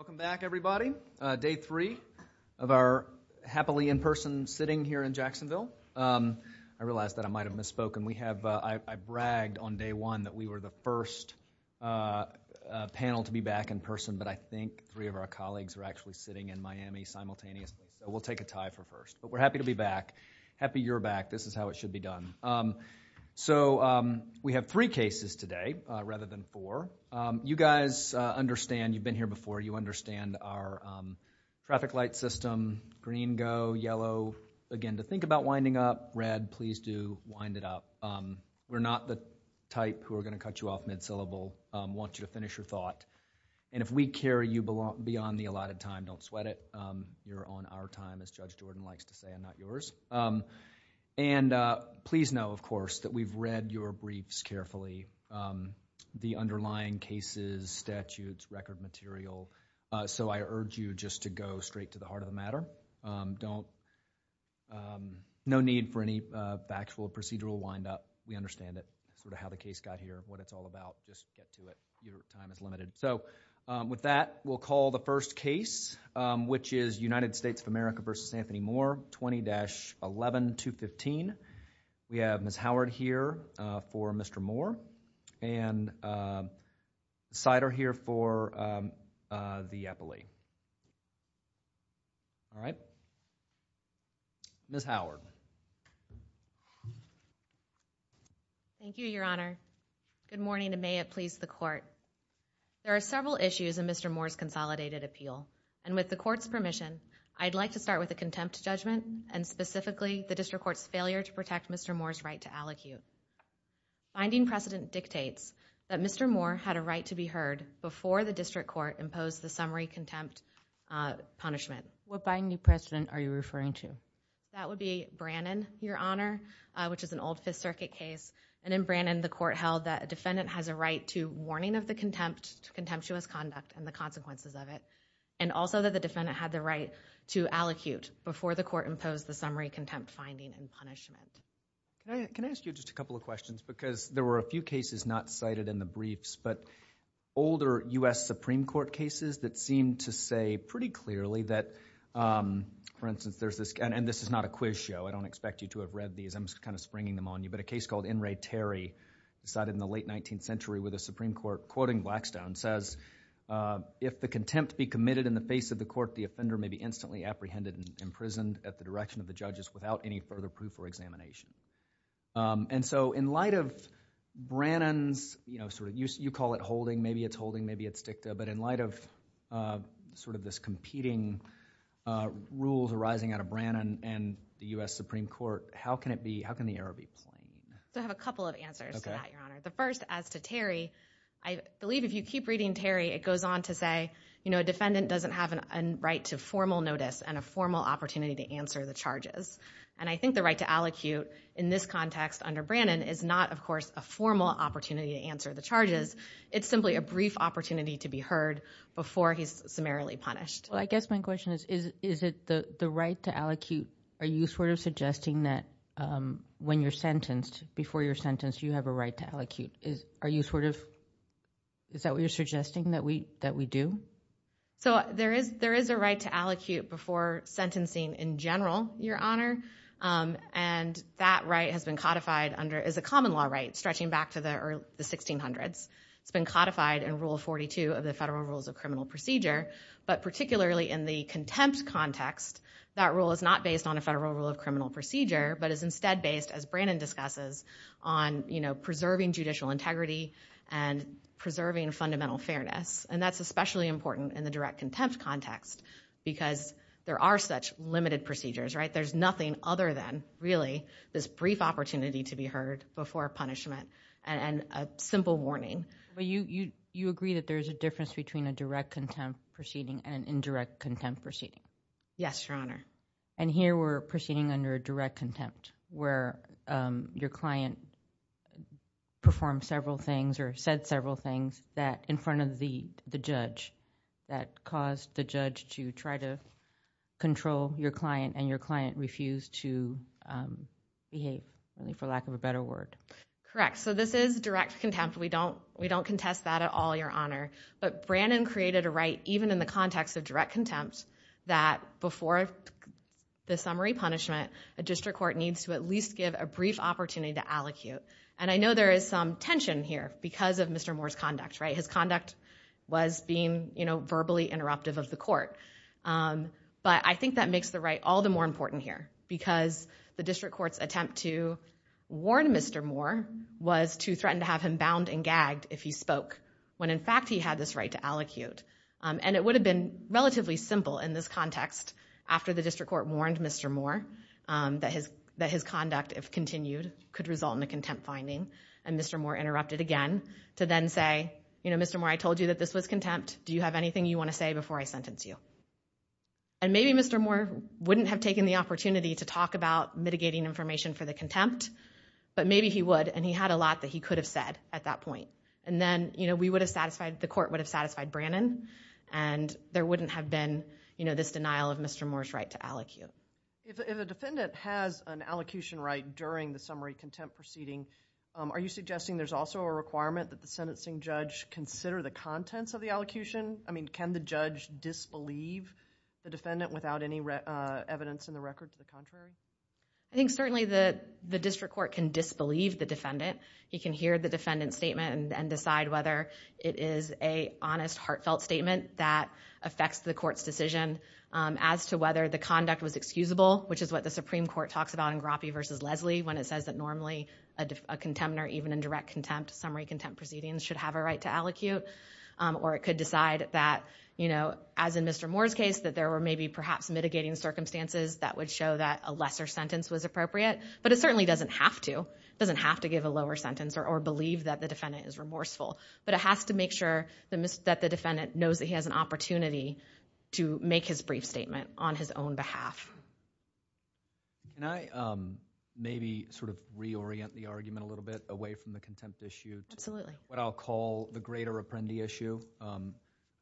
Welcome back everybody. Day three of our happily in-person sitting here in Jacksonville. I realize that I might have misspoken. I bragged on day one that we were the first panel to be back in person, but I think three of our colleagues are actually sitting in Miami simultaneously, so we'll take a tie for first. But we're happy to be back, happy you're back. This is how it should be done. So we have three cases today rather than four. You guys understand, you've been here before, you understand our traffic light system, green go, yellow, again to think about winding up, red, please do wind it up. We're not the type who are going to cut you off mid-syllable, want you to finish your thought. And if we carry you beyond the allotted time, don't sweat it. You're on our time as Judge Jordan likes to say and not yours. And please know, of course, that we've read your briefs carefully. The underlying cases, statutes, record material. So I urge you just to go straight to the heart of the matter. No need for any factual procedural wind up. We understand it, sort of how the case got here, what it's all about. Just get to it. Your time is limited. So with that, we'll call the first case, which is United States of America v. Anthony Moore, 20-11215. We have Ms. Howard here for Mr. Moore. And the side are here for the Eppley. All right. Ms. Howard. Thank you, Your Honor. Good morning and may it please the Court. There are several issues in Mr. Moore's consolidated appeal. And with the Court's permission, I'd like to start with a contempt judgment and specifically the District Court's failure to protect Mr. Moore's right to allocute. Finding precedent dictates that Mr. Moore had a right to be heard before the District Court imposed the summary contempt punishment. What binding precedent are you referring to? That would be Brannon, Your Honor, which is an old Fifth Circuit case. And in Brannon, the Court held that a defendant has a right to warning of the contempt, contemptuous conduct and the consequences of it. And also that the defendant had the right to allocute before the Court imposed the summary contempt finding and punishment. Can I ask you just a couple of questions? Because there were a few cases not cited in the briefs, but older U.S. Supreme Court cases that seem to say pretty clearly that, for instance, there's this, and this is not a quiz show. I don't expect you to have read these. I'm kind of springing them on you. But a case called In re Terry, decided in the late 19th century with the Supreme Court, quoting Blackstone, says, if the contempt be committed in the face of the Court, the offender may be instantly apprehended and imprisoned at the direction of the judges without any further proof or examination. And so in light of Brannon's, you know, sort of, you call it holding, maybe it's holding, maybe it's dicta, but in light of sort of this competing rules arising out of Brannon and the U.S. Supreme Court, how can it be, how can the error be plain? I have a couple of answers to that, Your Honor. The first, as to Terry, I believe if you keep reading Terry, it goes on to say, you know, a defendant doesn't have a right to formal notice and a formal opportunity to answer the charges. And I think the right to allocute in this context under Brannon is not, of course, a formal opportunity to answer the charges. It's simply a brief opportunity to be heard before he's summarily punished. Well, I guess my question is, is it the right to allocute, are you sort of suggesting that when you're sentenced, before you're sentenced, you have a right to allocute? Are you sort of, is that what you're suggesting, that we do? So there is a right to allocute before sentencing in general, Your Honor, and that right has been codified under, is a common law right stretching back to the 1600s. It's been codified in Rule 42 of the Federal Rules of Criminal Procedure, but particularly in the contempt context, that rule is not based on a Federal Rule of Criminal Procedure, but is instead based, as Brannon discusses, on, you know, preserving judicial integrity and preserving fundamental fairness. And that's especially important in the direct contempt context, because there are such limited procedures, right? There's nothing other than, really, this brief opportunity to be heard before punishment and a simple warning. But you agree that there's a difference between a direct contempt proceeding and an indirect contempt proceeding? Yes, Your Honor. And here, we're proceeding under a direct contempt, where your client performed several things or said several things that, in front of the judge, that caused the judge to try to control your client and your client refused to behave, for lack of a better word. Correct. So this is direct contempt. We don't contest that at all, Your Honor. But Brannon created a right, even in the context of direct contempt, that before the summary punishment, a district court needs to at least give a brief opportunity to allocute. And I know there is some tension here because of Mr. Moore's conduct, right? His conduct was being, you know, verbally interruptive of the court. But I think that makes the right all the more important here, because the district court's attempt to warn Mr. Moore was to threaten to have him bound and gagged if he spoke, when in fact he had this right to allocute. And it would have been relatively simple in this context, after the district court warned Mr. Moore that his conduct, if continued, could result in a contempt finding, and Mr. Moore interrupted again to then say, you know, Mr. Moore, I told you that this was contempt. Do you have anything you want to say before I sentence you? And maybe Mr. Moore wouldn't have taken the opportunity to talk about mitigating information for the contempt, but maybe he would, and he had a lot that he could have said at that point. And then, you know, we would have satisfied, the court would have satisfied Brannon, and there wouldn't have been, you know, this denial of Mr. Moore's right to allocute. If a defendant has an allocution right during the summary contempt proceeding, are you suggesting there's also a requirement that the sentencing judge consider the contents of the allocution? I mean, can the judge disbelieve the defendant without any evidence in the record to the contrary? I think certainly the district court can disbelieve the defendant. He can hear the defendant's statement and decide whether it is a honest, heartfelt statement that affects the court's decision as to whether the conduct was excusable, which is what the Supreme Court talks about in Grappe v. Leslie when it says that normally a contemptor, even in direct contempt, summary contempt proceedings, should have a right to allocute. Or it could decide that, you know, as in Mr. Moore's case, that there were maybe perhaps mitigating circumstances that would show that a lesser sentence was appropriate. But it certainly doesn't have to, doesn't have to give a lower sentence or believe that the defendant is remorseful. But it has to make sure that the defendant knows that he has an opportunity to make his brief statement on his own behalf. Can I maybe sort of reorient the argument a little bit away from the contempt issue to what I'll call the greater apprendi issue, a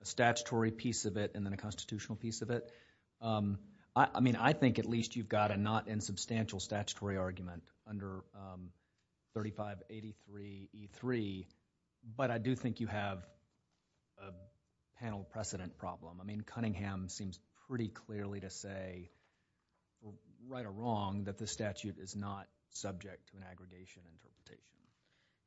statutory piece of it and then a constitutional piece of it. I mean, I think at least you've got a not insubstantial statutory argument under 3583E3. But I do think you have a panel precedent problem. I mean, Cunningham seems pretty clearly to say, right or wrong, that the statute is not subject to an aggregation interpretation.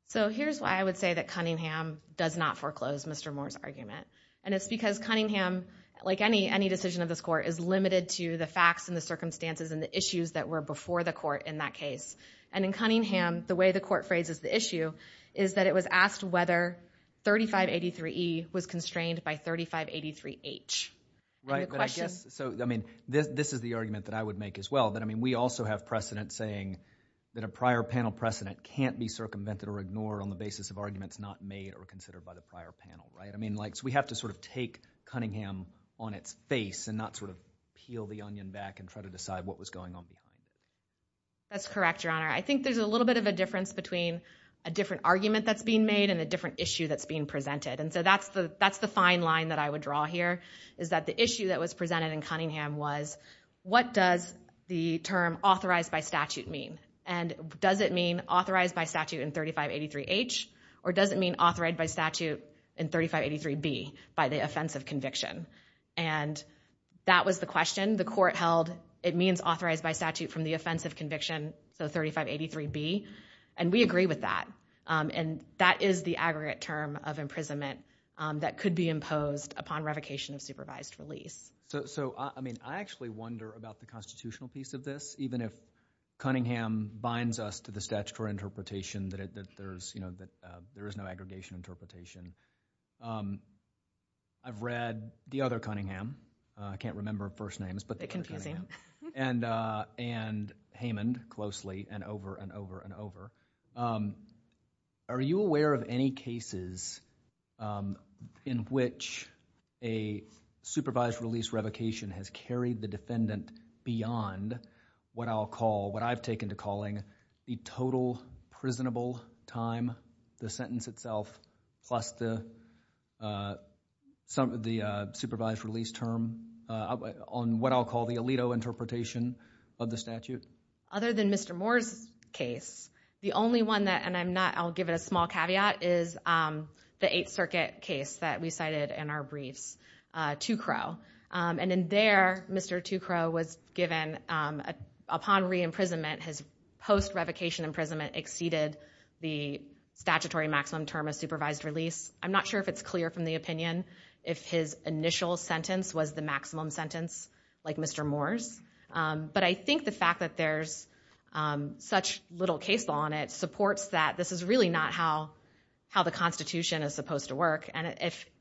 So here's why I would say that Cunningham does not foreclose Mr. Moore's argument. And it's because Cunningham, like any decision of this court, is limited to the facts and the circumstances and the issues that were before the court in that case. And in Cunningham, the way the court phrases the issue is that it was asked whether 3583E was constrained by 3583H. And the question. Right. But I guess, so, I mean, this is the argument that I would make as well, that, I mean, we also have precedent saying that a prior panel precedent can't be circumvented or ignored on the basis of arguments not made or considered by the prior panel, right? I mean, like, so we have to sort of take Cunningham on its face and not sort of peel the onion back and try to decide what was going on behind it. That's correct, Your Honor. I think there's a little bit of a difference between a different argument that's being made and a different issue that's being presented. And so that's the fine line that I would draw here, is that the issue that was presented in Cunningham was, what does the term authorized by statute mean? And does it mean authorized by statute in 3583H? Or does it mean authorized by statute in 3583B, by the offense of conviction? And that was the question the court held. It means authorized by statute from the offense of conviction, so 3583B. And we agree with that. And that is the aggregate term of imprisonment that could be imposed upon revocation of supervised release. So, I mean, I actually wonder about the constitutional piece of this, even if Cunningham binds us to the statutory interpretation that there's, you know, that there is no aggregation interpretation. I've read the other Cunningham, I can't remember first names, but the other Cunningham. A bit confusing. And Hamond closely and over and over and over. Are you aware of any cases in which a supervised release revocation has carried the defendant beyond what I'll call, what I've taken to calling, the total prisonable time, the sentence itself, plus the supervised release term on what I'll call the Alito interpretation of the statute? Other than Mr. Moore's case, the only one that, and I'm not, I'll give it a small caveat, is the Eighth Circuit case that we cited in our briefs, Two Crow. And in there, Mr. Two Crow was given, upon re-imprisonment, his post-revocation imprisonment exceeded the statutory maximum term of supervised release. I'm not sure if it's clear from the opinion if his initial sentence was the maximum sentence like Mr. Moore's. But I think the fact that there's such little case law on it supports that this is really not how the Constitution is supposed to work. And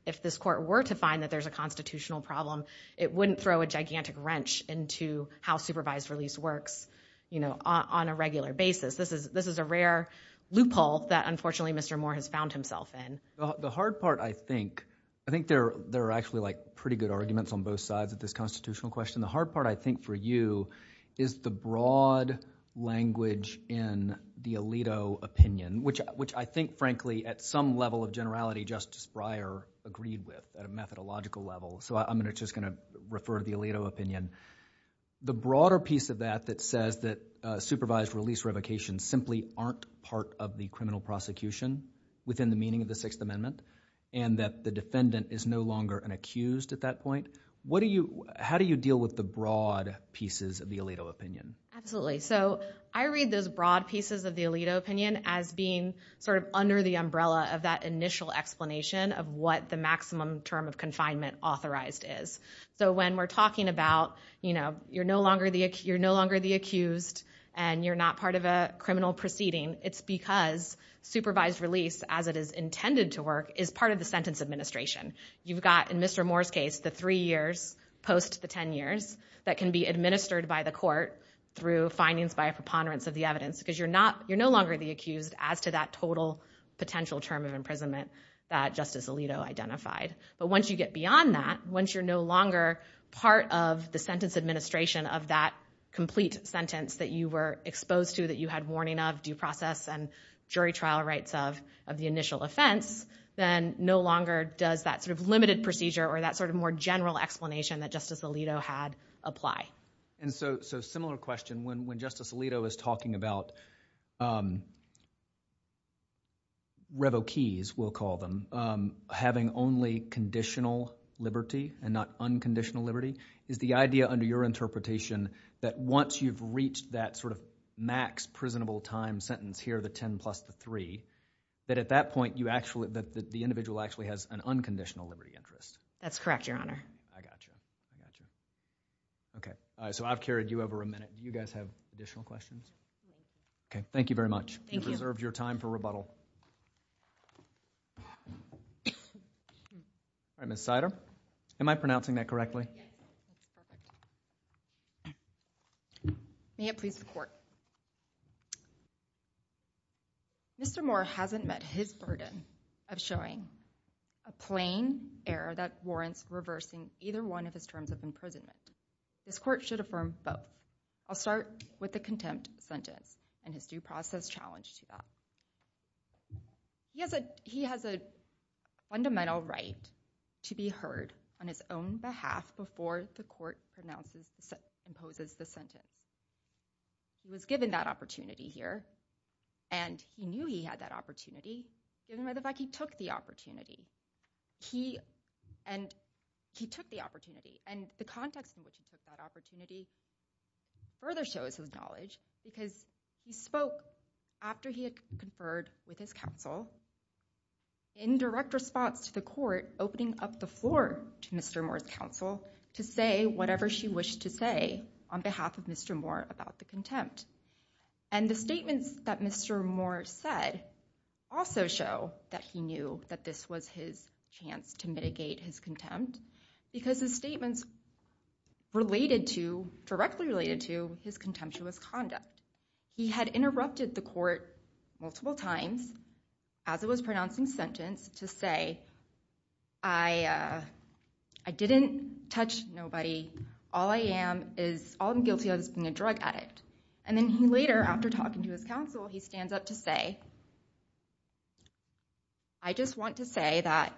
if this court were to find that there's a constitutional problem, it wouldn't throw a gigantic wrench into how supervised release works, you know, on a regular basis. This is a rare loophole that, unfortunately, Mr. Moore has found himself in. The hard part, I think, I think there are actually like pretty good arguments on both sides of this constitutional question. The hard part, I think, for you is the broad language in the Alito opinion, which I think, frankly, at some level of generality, Justice Breyer agreed with at a methodological level. So I'm just going to refer to the Alito opinion. The broader piece of that that says that supervised release revocations simply aren't part of the criminal prosecution within the meaning of the Sixth Amendment, and that the defendant is no longer an accused at that point, how do you deal with the broad pieces of the Alito opinion? Absolutely. So I read those broad pieces of the Alito opinion as being sort of under the umbrella of that initial explanation of what the maximum term of confinement authorized is. So when we're talking about, you know, you're no longer the accused and you're not part of a criminal proceeding, it's because supervised release, as it is intended to work, is part of the sentence administration. You've got, in Mr. Moore's case, the three years post the 10 years that can be administered by the court through findings by a preponderance of the evidence, because you're not, you're no longer the accused as to that total potential term of imprisonment that Justice Alito identified. But once you get beyond that, once you're no longer part of the sentence administration of that complete sentence that you were exposed to, that you had warning of due process and jury trial rights of the initial offense, then no longer does that sort of limited procedure or that sort of more general explanation that Justice Alito had apply. And so similar question, when Justice Alito is talking about revokees, we'll call them, having only conditional liberty and not unconditional liberty, is the idea under your interpretation that once you've reached that sort of max prisonable time sentence here, the 10 plus the 3, that at that point you actually, that the individual actually has an unconditional liberty interest? That's correct, Your Honor. I got you. I got you. Okay. All right. So I've carried you over a minute. Do you guys have additional questions? No. Okay. Thank you very much. Thank you. You've reserved your time for rebuttal. All right. Ms. Sider? Am I pronouncing that correctly? Yes. That's perfect. May it please the court. Mr. Moore hasn't met his burden of showing a plain error that warrants reversing either one of his terms of imprisonment. This court should affirm both. I'll start with the contempt sentence and his due process challenge to that. He has a fundamental right to be heard on his own behalf before the court imposes the sentence. He was given that opportunity here, and he knew he had that opportunity, given by the opportunity. And the context in which he took that opportunity further shows his knowledge, because he spoke after he had conferred with his counsel in direct response to the court, opening up the floor to Mr. Moore's counsel to say whatever she wished to say on behalf of Mr. Moore about the contempt. And the statements that Mr. Moore said also show that he knew that this was his chance to mitigate his contempt, because his statements directly related to his contemptuous conduct. He had interrupted the court multiple times as it was pronouncing sentence to say, I didn't touch nobody. All I am guilty of is being a drug addict. And then he later, after talking to his counsel, he stands up to say, I just want to say that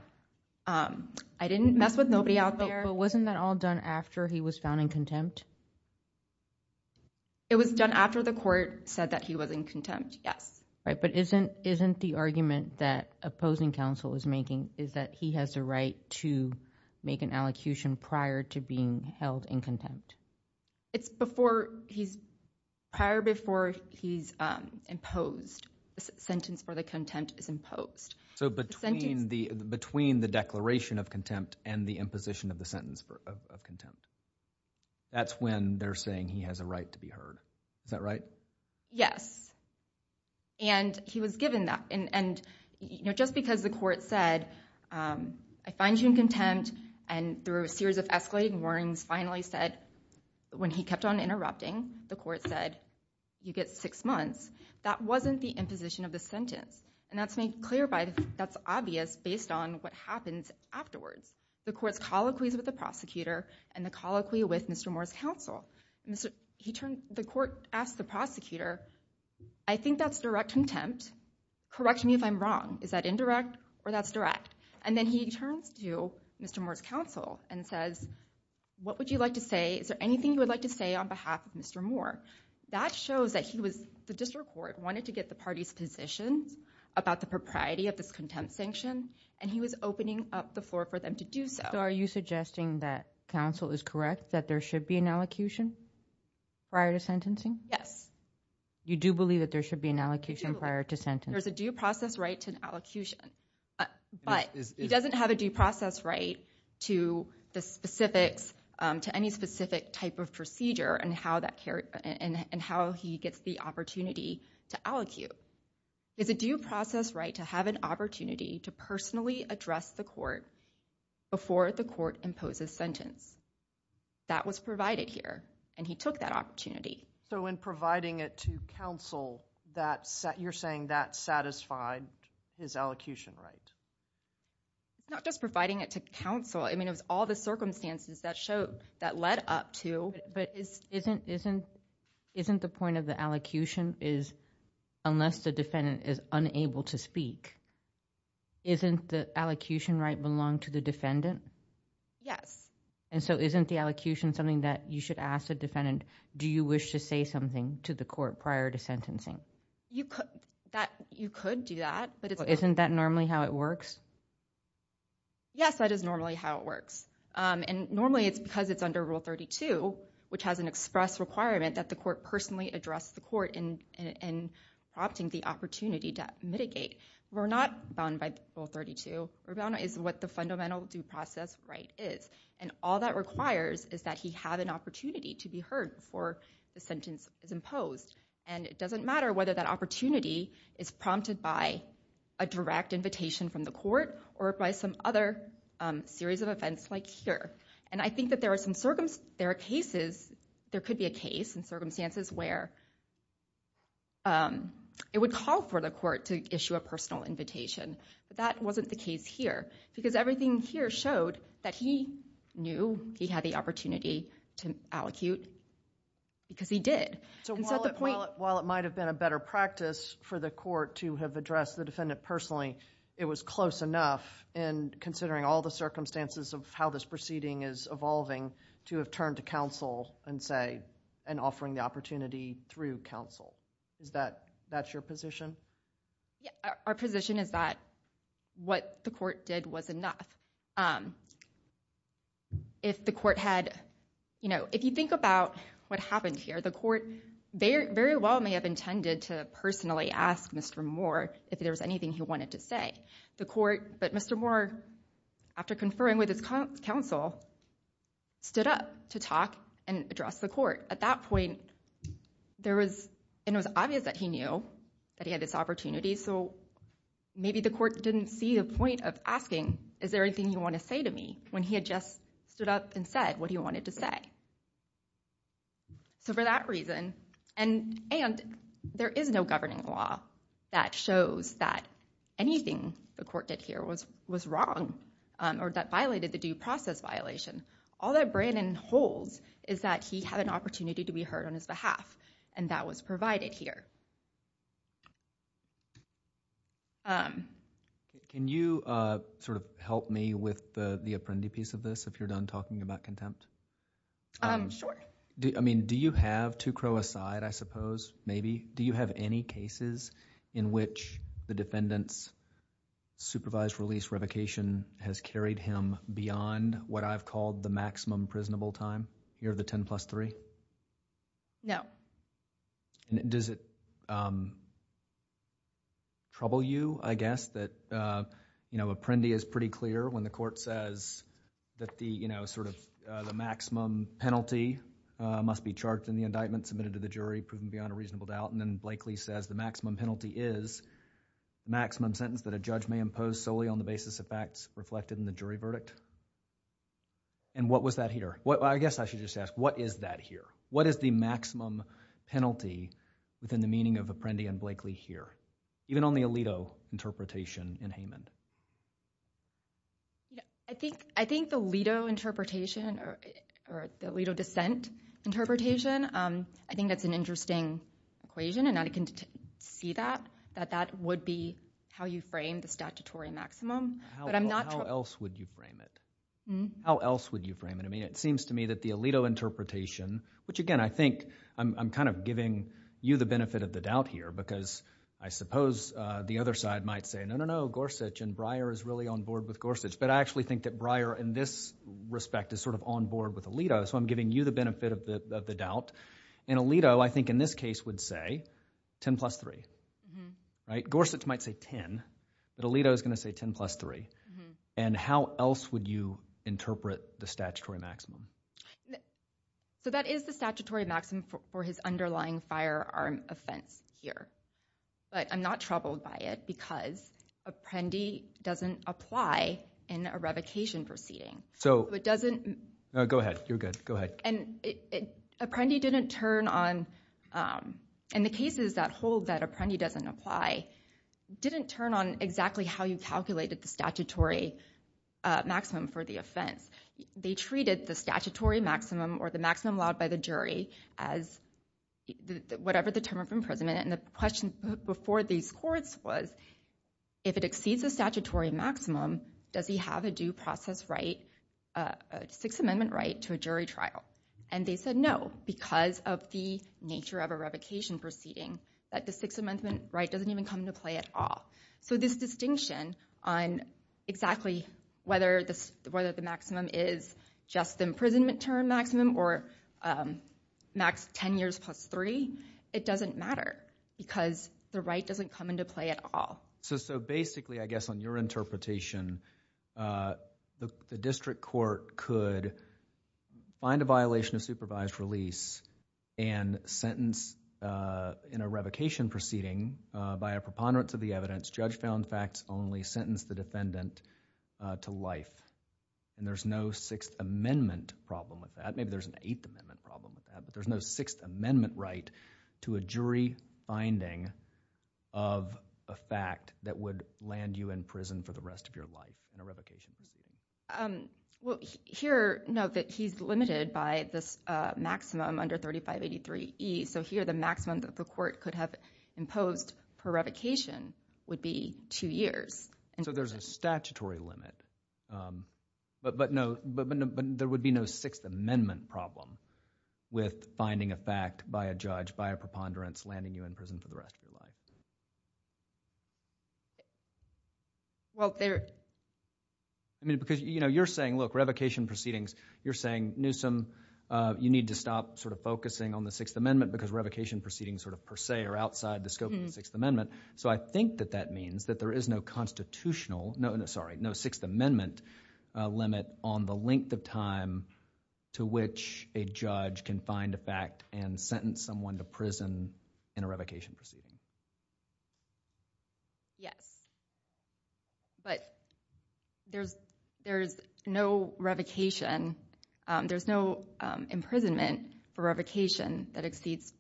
I didn't mess with nobody out there. But wasn't that all done after he was found in contempt? It was done after the court said that he was in contempt, yes. But isn't the argument that opposing counsel is making is that he has a right to make an allocution prior to being held in contempt? It's prior before he's imposed. The sentence for the contempt is imposed. So between the declaration of contempt and the imposition of the sentence of contempt, that's when they're saying he has a right to be heard. Is that right? Yes. And he was given that. And just because the court said, I find you in contempt, and through a series of escalating warnings finally said, when he kept on interrupting, the court said, you get six months, that wasn't the imposition of the sentence. And that's made clear by, that's obvious based on what happens afterwards. The court's colloquies with the prosecutor and the colloquy with Mr. Moore's counsel. The court asked the prosecutor, I think that's direct contempt. Correct me if I'm wrong. Is that indirect or that's direct? And then he turns to Mr. Moore's counsel and says, what would you like to say? Is there anything you would like to say on behalf of Mr. Moore? That shows that he was, the district court, wanted to get the party's positions about the propriety of this contempt sanction. And he was opening up the floor for them to do so. So are you suggesting that counsel is correct, that there should be an allocution prior to sentencing? Yes. You do believe that there should be an allocation prior to sentencing? There's a due process right to an allocution. But he doesn't have a due process right to the specifics, to any specific type of procedure and how he gets the opportunity to allocute. It's a due process right to have an opportunity to personally address the court before the court imposes sentence. That was provided here. And he took that opportunity. So in providing it to counsel, you're saying that satisfied his allocution right? Not just providing it to counsel, I mean, it was all the circumstances that led up to. But isn't the point of the allocution is, unless the defendant is unable to speak, isn't the allocution right belong to the defendant? Yes. And so isn't the allocution something that you should ask the defendant, do you wish to say something to the court prior to sentencing? You could do that. Isn't that normally how it works? Yes, that is normally how it works. And normally it's because it's under Rule 32, which has an express requirement that the court personally address the court in prompting the opportunity to mitigate. We're not bound by Rule 32. We're bound by what the fundamental due process right is. And all that requires is that he have an opportunity to be heard before the sentence is imposed. And it doesn't matter whether that opportunity is prompted by a direct invitation from the court, like here. And I think that there are some circumstances, there are cases, there could be a case in circumstances where it would call for the court to issue a personal invitation, but that wasn't the case here. Because everything here showed that he knew he had the opportunity to allocute because he did. So while it might have been a better practice for the court to have addressed the defendant personally, it was close enough, and considering all the circumstances of how this proceeding is evolving, to have turned to counsel and say, and offering the opportunity through counsel. That's your position? Yeah. Our position is that what the court did was enough. If the court had, you know, if you think about what happened here, the court very well may have intended to personally ask Mr. Moore if there was anything he wanted to say. The court, but Mr. Moore, after conferring with his counsel, stood up to talk and address the court. At that point, there was, it was obvious that he knew that he had this opportunity, so maybe the court didn't see the point of asking, is there anything you want to say to me, when he had just stood up and said what he wanted to say. So for that reason, and there is no governing law that shows that anything the court did here was wrong, or that violated the due process violation. All that Brandon holds is that he had an opportunity to be heard on his behalf, and that was provided here. Can you sort of help me with the Apprendi piece of this, if you're done talking about contempt? Sure. I mean, do you have, two crow aside, I suppose, maybe, do you have any cases in which the defendant's supervised release revocation has carried him beyond what I've called the maximum prisonable time, here, the ten plus three? No. Does it trouble you, I guess, that, you know, Apprendi is pretty clear when the court says that the, you know, sort of the maximum penalty must be charged in the indictment submitted to the jury, proven beyond a reasonable doubt, and then Blakely says the maximum penalty is maximum sentence that a judge may impose solely on the basis of facts reflected in the jury verdict? And what was that here? Well, I guess I should just ask, what is that here? What is the maximum penalty within the meaning of Apprendi and Blakely here, even on the Alito interpretation in Haman? I think the Alito interpretation, or the Alito dissent interpretation, I think that's an interesting equation, and I can see that, that that would be how you frame the statutory maximum. But I'm not... How else would you frame it? Hmm? How else would you frame it? I mean, it seems to me that the Alito interpretation, which again, I think I'm kind of giving you the benefit of the doubt here, because I suppose the other side might say, no, no, no, Gorsuch and Breyer is really on board with Gorsuch. But I actually think that Breyer in this respect is sort of on board with Alito, so I'm giving you the benefit of the doubt. And Alito, I think in this case, would say 10 plus 3. Right? Gorsuch might say 10, but Alito is going to say 10 plus 3. And how else would you interpret the statutory maximum? So that is the statutory maximum for his underlying firearm offense here. But I'm not troubled by it, because Apprendi doesn't apply in a revocation proceeding. So it doesn't... No, go ahead. You're good. Go ahead. And Apprendi didn't turn on, in the cases that hold that Apprendi doesn't apply, didn't turn on exactly how you calculated the statutory maximum for the offense. They treated the statutory maximum, or the maximum allowed by the jury, as whatever the term of imprisonment. And the question before these courts was, if it exceeds the statutory maximum, does he have a due process right, a Sixth Amendment right, to a jury trial? And they said no, because of the nature of a revocation proceeding, that the Sixth Amendment right doesn't even come into play at all. So this distinction on exactly whether the maximum is just the imprisonment term maximum, or max 10 years plus 3, it doesn't matter, because the right doesn't come into play at all. So basically, I guess on your interpretation, the district court could find a violation of supervised release, and sentence, in a revocation proceeding, by a preponderance of the evidence, judge found facts only, sentence the defendant to life. And there's no Sixth Amendment problem with that. Maybe there's an Eighth Amendment problem with that, but there's no Sixth Amendment right to a jury finding of a fact that would land you in prison for the rest of your life in a revocation proceeding. Well, here, no, that he's limited by this maximum under 3583E, so here the maximum that the court could have imposed per revocation would be two years. So there's a statutory limit, but no, but there would be no Sixth Amendment problem with finding a fact by a judge, by a preponderance, landing you in prison for the rest of your life. Well, there, I mean, because, you know, you're saying, look, revocation proceedings, you're saying, Newsom, you need to stop sort of focusing on the Sixth Amendment, because revocation proceedings sort of per se are outside the scope of the Sixth Amendment. So I think that that means that there is no constitutional, no, sorry, no Sixth Amendment limit on the length of time to which a judge can find a fact and sentence someone to prison in a revocation proceeding. Yes, but there's no revocation, there's no imprisonment for revocation that exceeds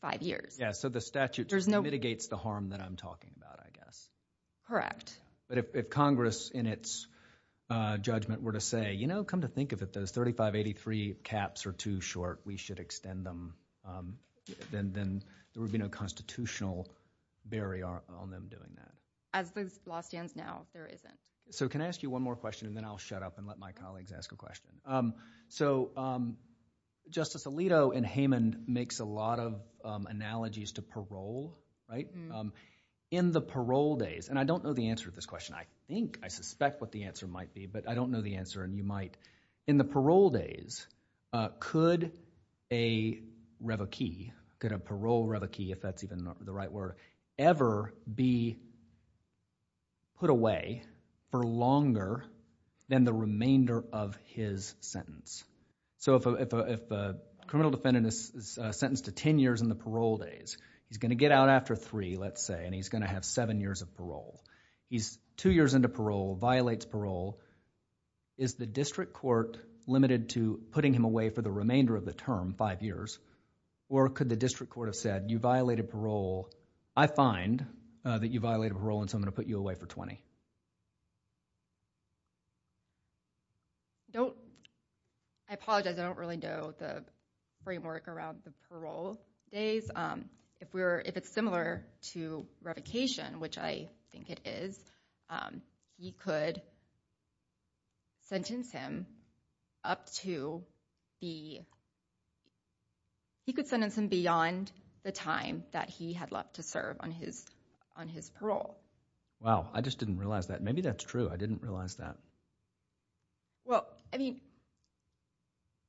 five years. Yeah, so the statute mitigates the harm that I'm talking about, I guess. Correct. But if Congress in its judgment were to say, you know, come to think of it, those 3583 caps are too short, we should extend them, then there would be no constitutional barrier on them doing that. As the law stands now, there isn't. So can I ask you one more question, and then I'll shut up and let my colleagues ask a question. So Justice Alito in Haman makes a lot of analogies to parole, right? In the parole days, and I don't know the answer to this question, I think, I suspect what the answer might be, but I don't know the answer, and you might. In the parole days, could a revokee, could a parole revokee, if that's even the right word, ever be put away for longer than the remainder of his sentence? So if a criminal defendant is sentenced to ten years in the parole days, he's going to get out after three, let's say, and he's going to have seven years of parole. He's two years into parole, violates parole, is the district court limited to putting him away for the remainder of the term, five years, or could the district court have said, you violated parole, I find that you violated parole and so I'm going to put you away for 20? I apologize, I don't really know the framework around the parole days. If we're, if it's similar to revocation, which I think it is, he could sentence him up to the, he could sentence him beyond the time that he had left to serve on his, on his parole. Wow. I just didn't realize that. Maybe that's true. I didn't realize that. Well, I mean,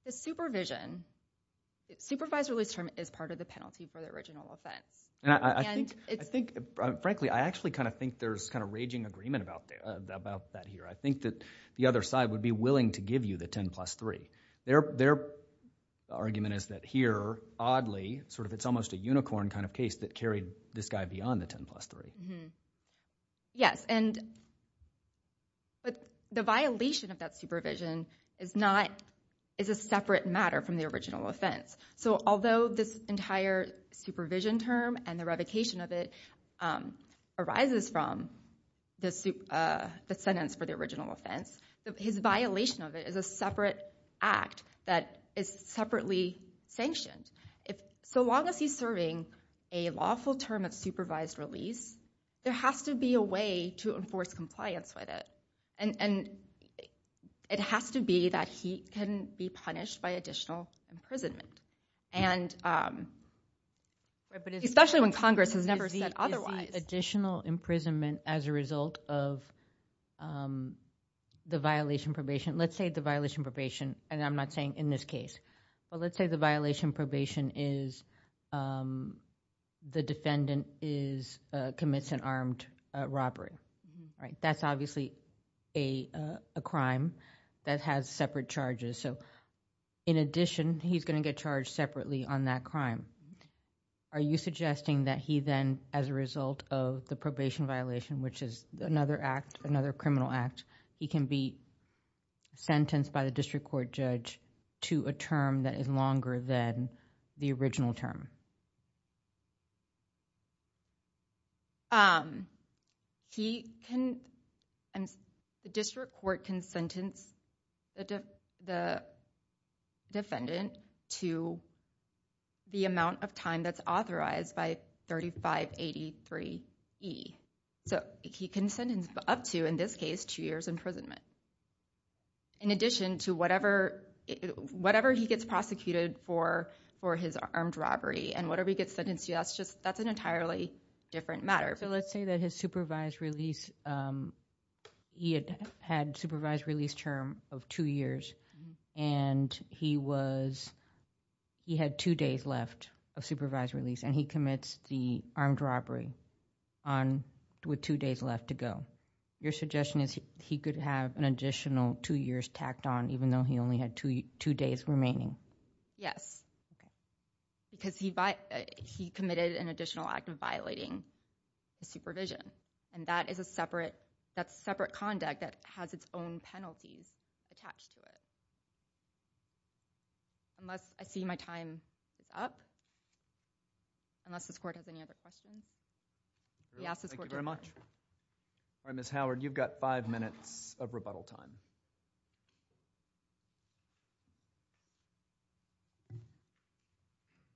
the supervision, supervised release term is part of the penalty for the original offense. And I think, I think, frankly, I actually kind of think there's kind of raging agreement about that here. I think that the other side would be willing to give you the 10 plus 3. Their argument is that here, oddly, sort of, it's almost a unicorn kind of case that carried this guy beyond the 10 plus 3. Yes, and, but the violation of that supervision is not, is a separate matter from the original offense. So although this entire supervision term and the revocation of it arises from the sentence for the original offense, his violation of it is a separate act that is separately sanctioned. So long as he's serving a lawful term of supervised release, there has to be a way to enforce compliance with it. And it has to be that he can be punished by additional imprisonment. And especially when Congress has never said otherwise. Additional imprisonment as a result of the violation probation. Let's say the violation probation, and I'm not saying in this case, but let's say the violation is the defendant is, commits an armed robbery, right? That's obviously a crime that has separate charges. So in addition, he's going to get charged separately on that crime. Are you suggesting that he then, as a result of the probation violation, which is another act, another criminal act, he can be sentenced by the district court judge to a term that is longer than the original term? He can, the district court can sentence the defendant to the amount of time that's authorized by 3583 E. So he can sentence up to, in this case, two years imprisonment. In addition to whatever, whatever he gets prosecuted for, for his armed robbery and whatever he gets sentenced to, that's just, that's an entirely different matter. So let's say that his supervised release, he had supervised release term of two years and he was, he had two days left of supervised release and he commits the armed robbery on, with two days left to go. Your suggestion is he could have an additional two years tacked on, even though he only had two days remaining? Yes. Okay. Because he committed an additional act of violating the supervision. And that is a separate, that's separate conduct that has its own penalties attached to it. Unless, I see my time is up. Unless this court has any other questions? Yes, this court did. Thank you very much. All right, Ms. Howard, you've got five minutes of rebuttal time.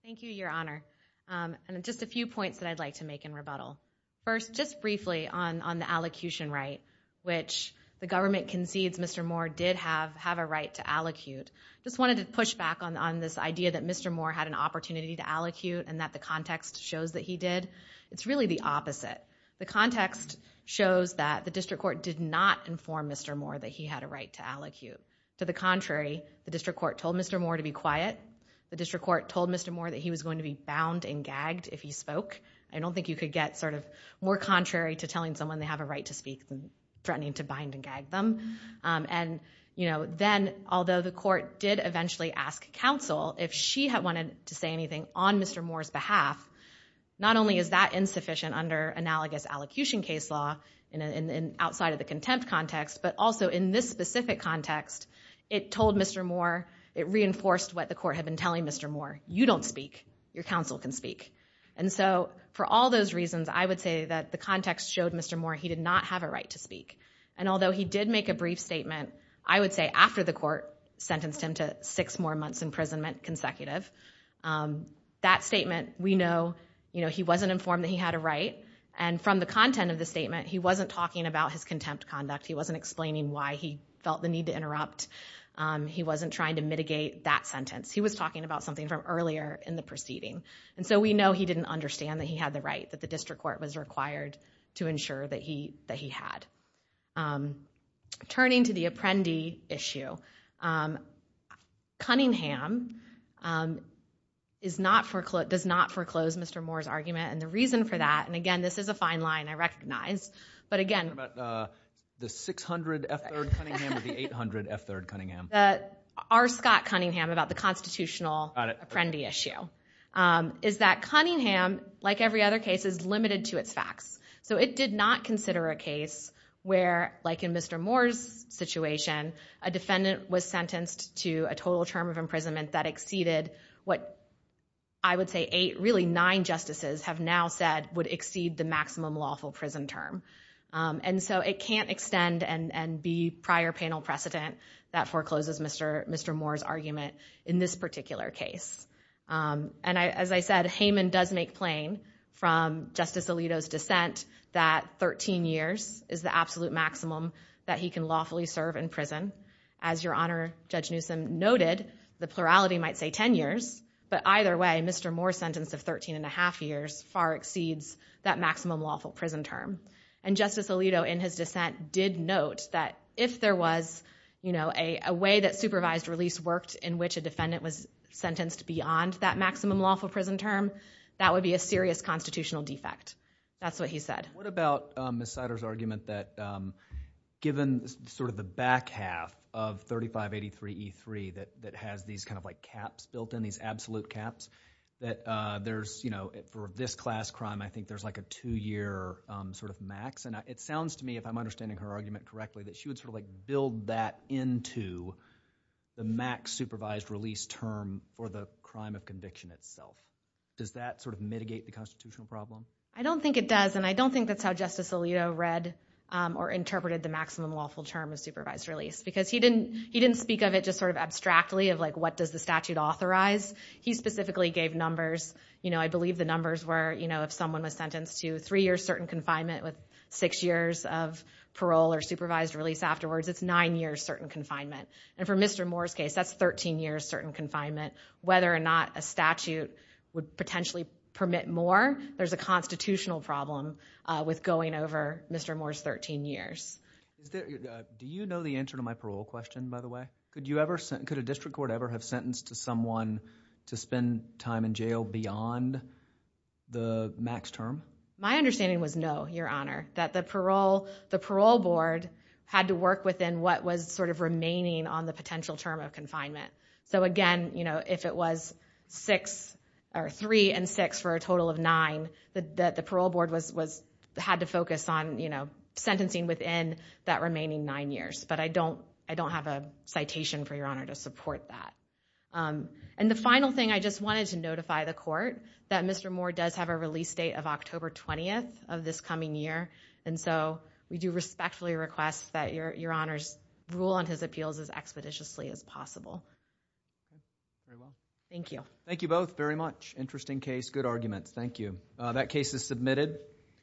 Thank you, Your Honor, and just a few points that I'd like to make in rebuttal. First, just briefly on, on the allocution right, which the government concedes Mr. Moore did have, have a right to allocute. Just wanted to push back on, on this idea that Mr. Moore had an opportunity to allocute and that the context shows that he did. It's really the opposite. The context shows that the district court did not inform Mr. Moore that he had a right to allocute. To the contrary, the district court told Mr. Moore to be quiet. The district court told Mr. Moore that he was going to be bound and gagged if he spoke. I don't think you could get sort of more contrary to telling someone they have a right to speak than threatening to bind and gag them. And you know, then, although the court did eventually ask counsel if she had wanted to say anything on Mr. Moore's behalf, not only is that insufficient under analogous allocution case law and outside of the contempt context, but also in this specific context, it told Mr. Moore, it reinforced what the court had been telling Mr. Moore. You don't speak. Your counsel can speak. And so for all those reasons, I would say that the context showed Mr. Moore he did not have a right to speak. And although he did make a brief statement, I would say after the court sentenced him to six more months imprisonment consecutive, that statement, we know, you know, he wasn't informed that he had a right. And from the content of the statement, he wasn't talking about his contempt conduct. He wasn't explaining why he felt the need to interrupt. He wasn't trying to mitigate that sentence. He was talking about something from earlier in the proceeding. And so we know he didn't understand that he had the right, that the district court was required to ensure that he had. And turning to the Apprendi issue, Cunningham does not foreclose Mr. Moore's argument. And the reason for that, and again, this is a fine line, I recognize, but again. What about the 600 F. 3rd Cunningham or the 800 F. 3rd Cunningham? R. Scott Cunningham about the constitutional Apprendi issue is that Cunningham, like every other case, is limited to its facts. So it did not consider a case where, like in Mr. Moore's situation, a defendant was sentenced to a total term of imprisonment that exceeded what I would say eight, really nine justices have now said would exceed the maximum lawful prison term. And so it can't extend and be prior panel precedent that forecloses Mr. Moore's argument in this particular case. And as I said, Hayman does make plain from Justice Alito's dissent that 13 years is the absolute maximum that he can lawfully serve in prison. As Your Honor, Judge Newsom noted, the plurality might say 10 years, but either way, Mr. Moore's sentence of 13 and a half years far exceeds that maximum lawful prison term. And Justice Alito, in his dissent, did note that if there was a way that supervised release worked in which a defendant was sentenced beyond that maximum lawful prison term, that would be a serious constitutional defect. That's what he said. What about Ms. Sider's argument that given sort of the back half of 3583E3 that has these kind of like caps built in, these absolute caps, that there's, you know, for this class crime I think there's like a two-year sort of max. And it sounds to me, if I'm understanding her argument correctly, that she would sort of like build that into the max supervised release term for the crime of conviction itself. Does that sort of mitigate the constitutional problem? I don't think it does. And I don't think that's how Justice Alito read or interpreted the maximum lawful term of supervised release. Because he didn't speak of it just sort of abstractly of like what does the statute authorize. He specifically gave numbers. You know, I believe the numbers were, you know, if someone was sentenced to three years certain confinement with six years of parole or supervised release afterwards, it's nine years certain confinement. And for Mr. Moore's case, that's 13 years certain confinement. Whether or not a statute would potentially permit more, there's a constitutional problem with going over Mr. Moore's 13 years. Do you know the answer to my parole question, by the way? Could you ever, could a district court ever have sentenced to someone to spend time in jail beyond the max term? My understanding was no, Your Honor. That the parole board had to work within what was sort of remaining on the potential term of confinement. So, again, you know, if it was six or three and six for a total of nine, that the parole board was, had to focus on, you know, sentencing within that remaining nine years. But I don't, I don't have a citation for Your Honor to support that. And the final thing, I just wanted to notify the court that Mr. Moore does have a release date of October 20th of this coming year. And so, we do respectfully request that Your Honor's rule on his appeals as expeditiously as possible. Okay. Very well. Thank you. Thank you both very much. Interesting case. Good arguments. Thank you.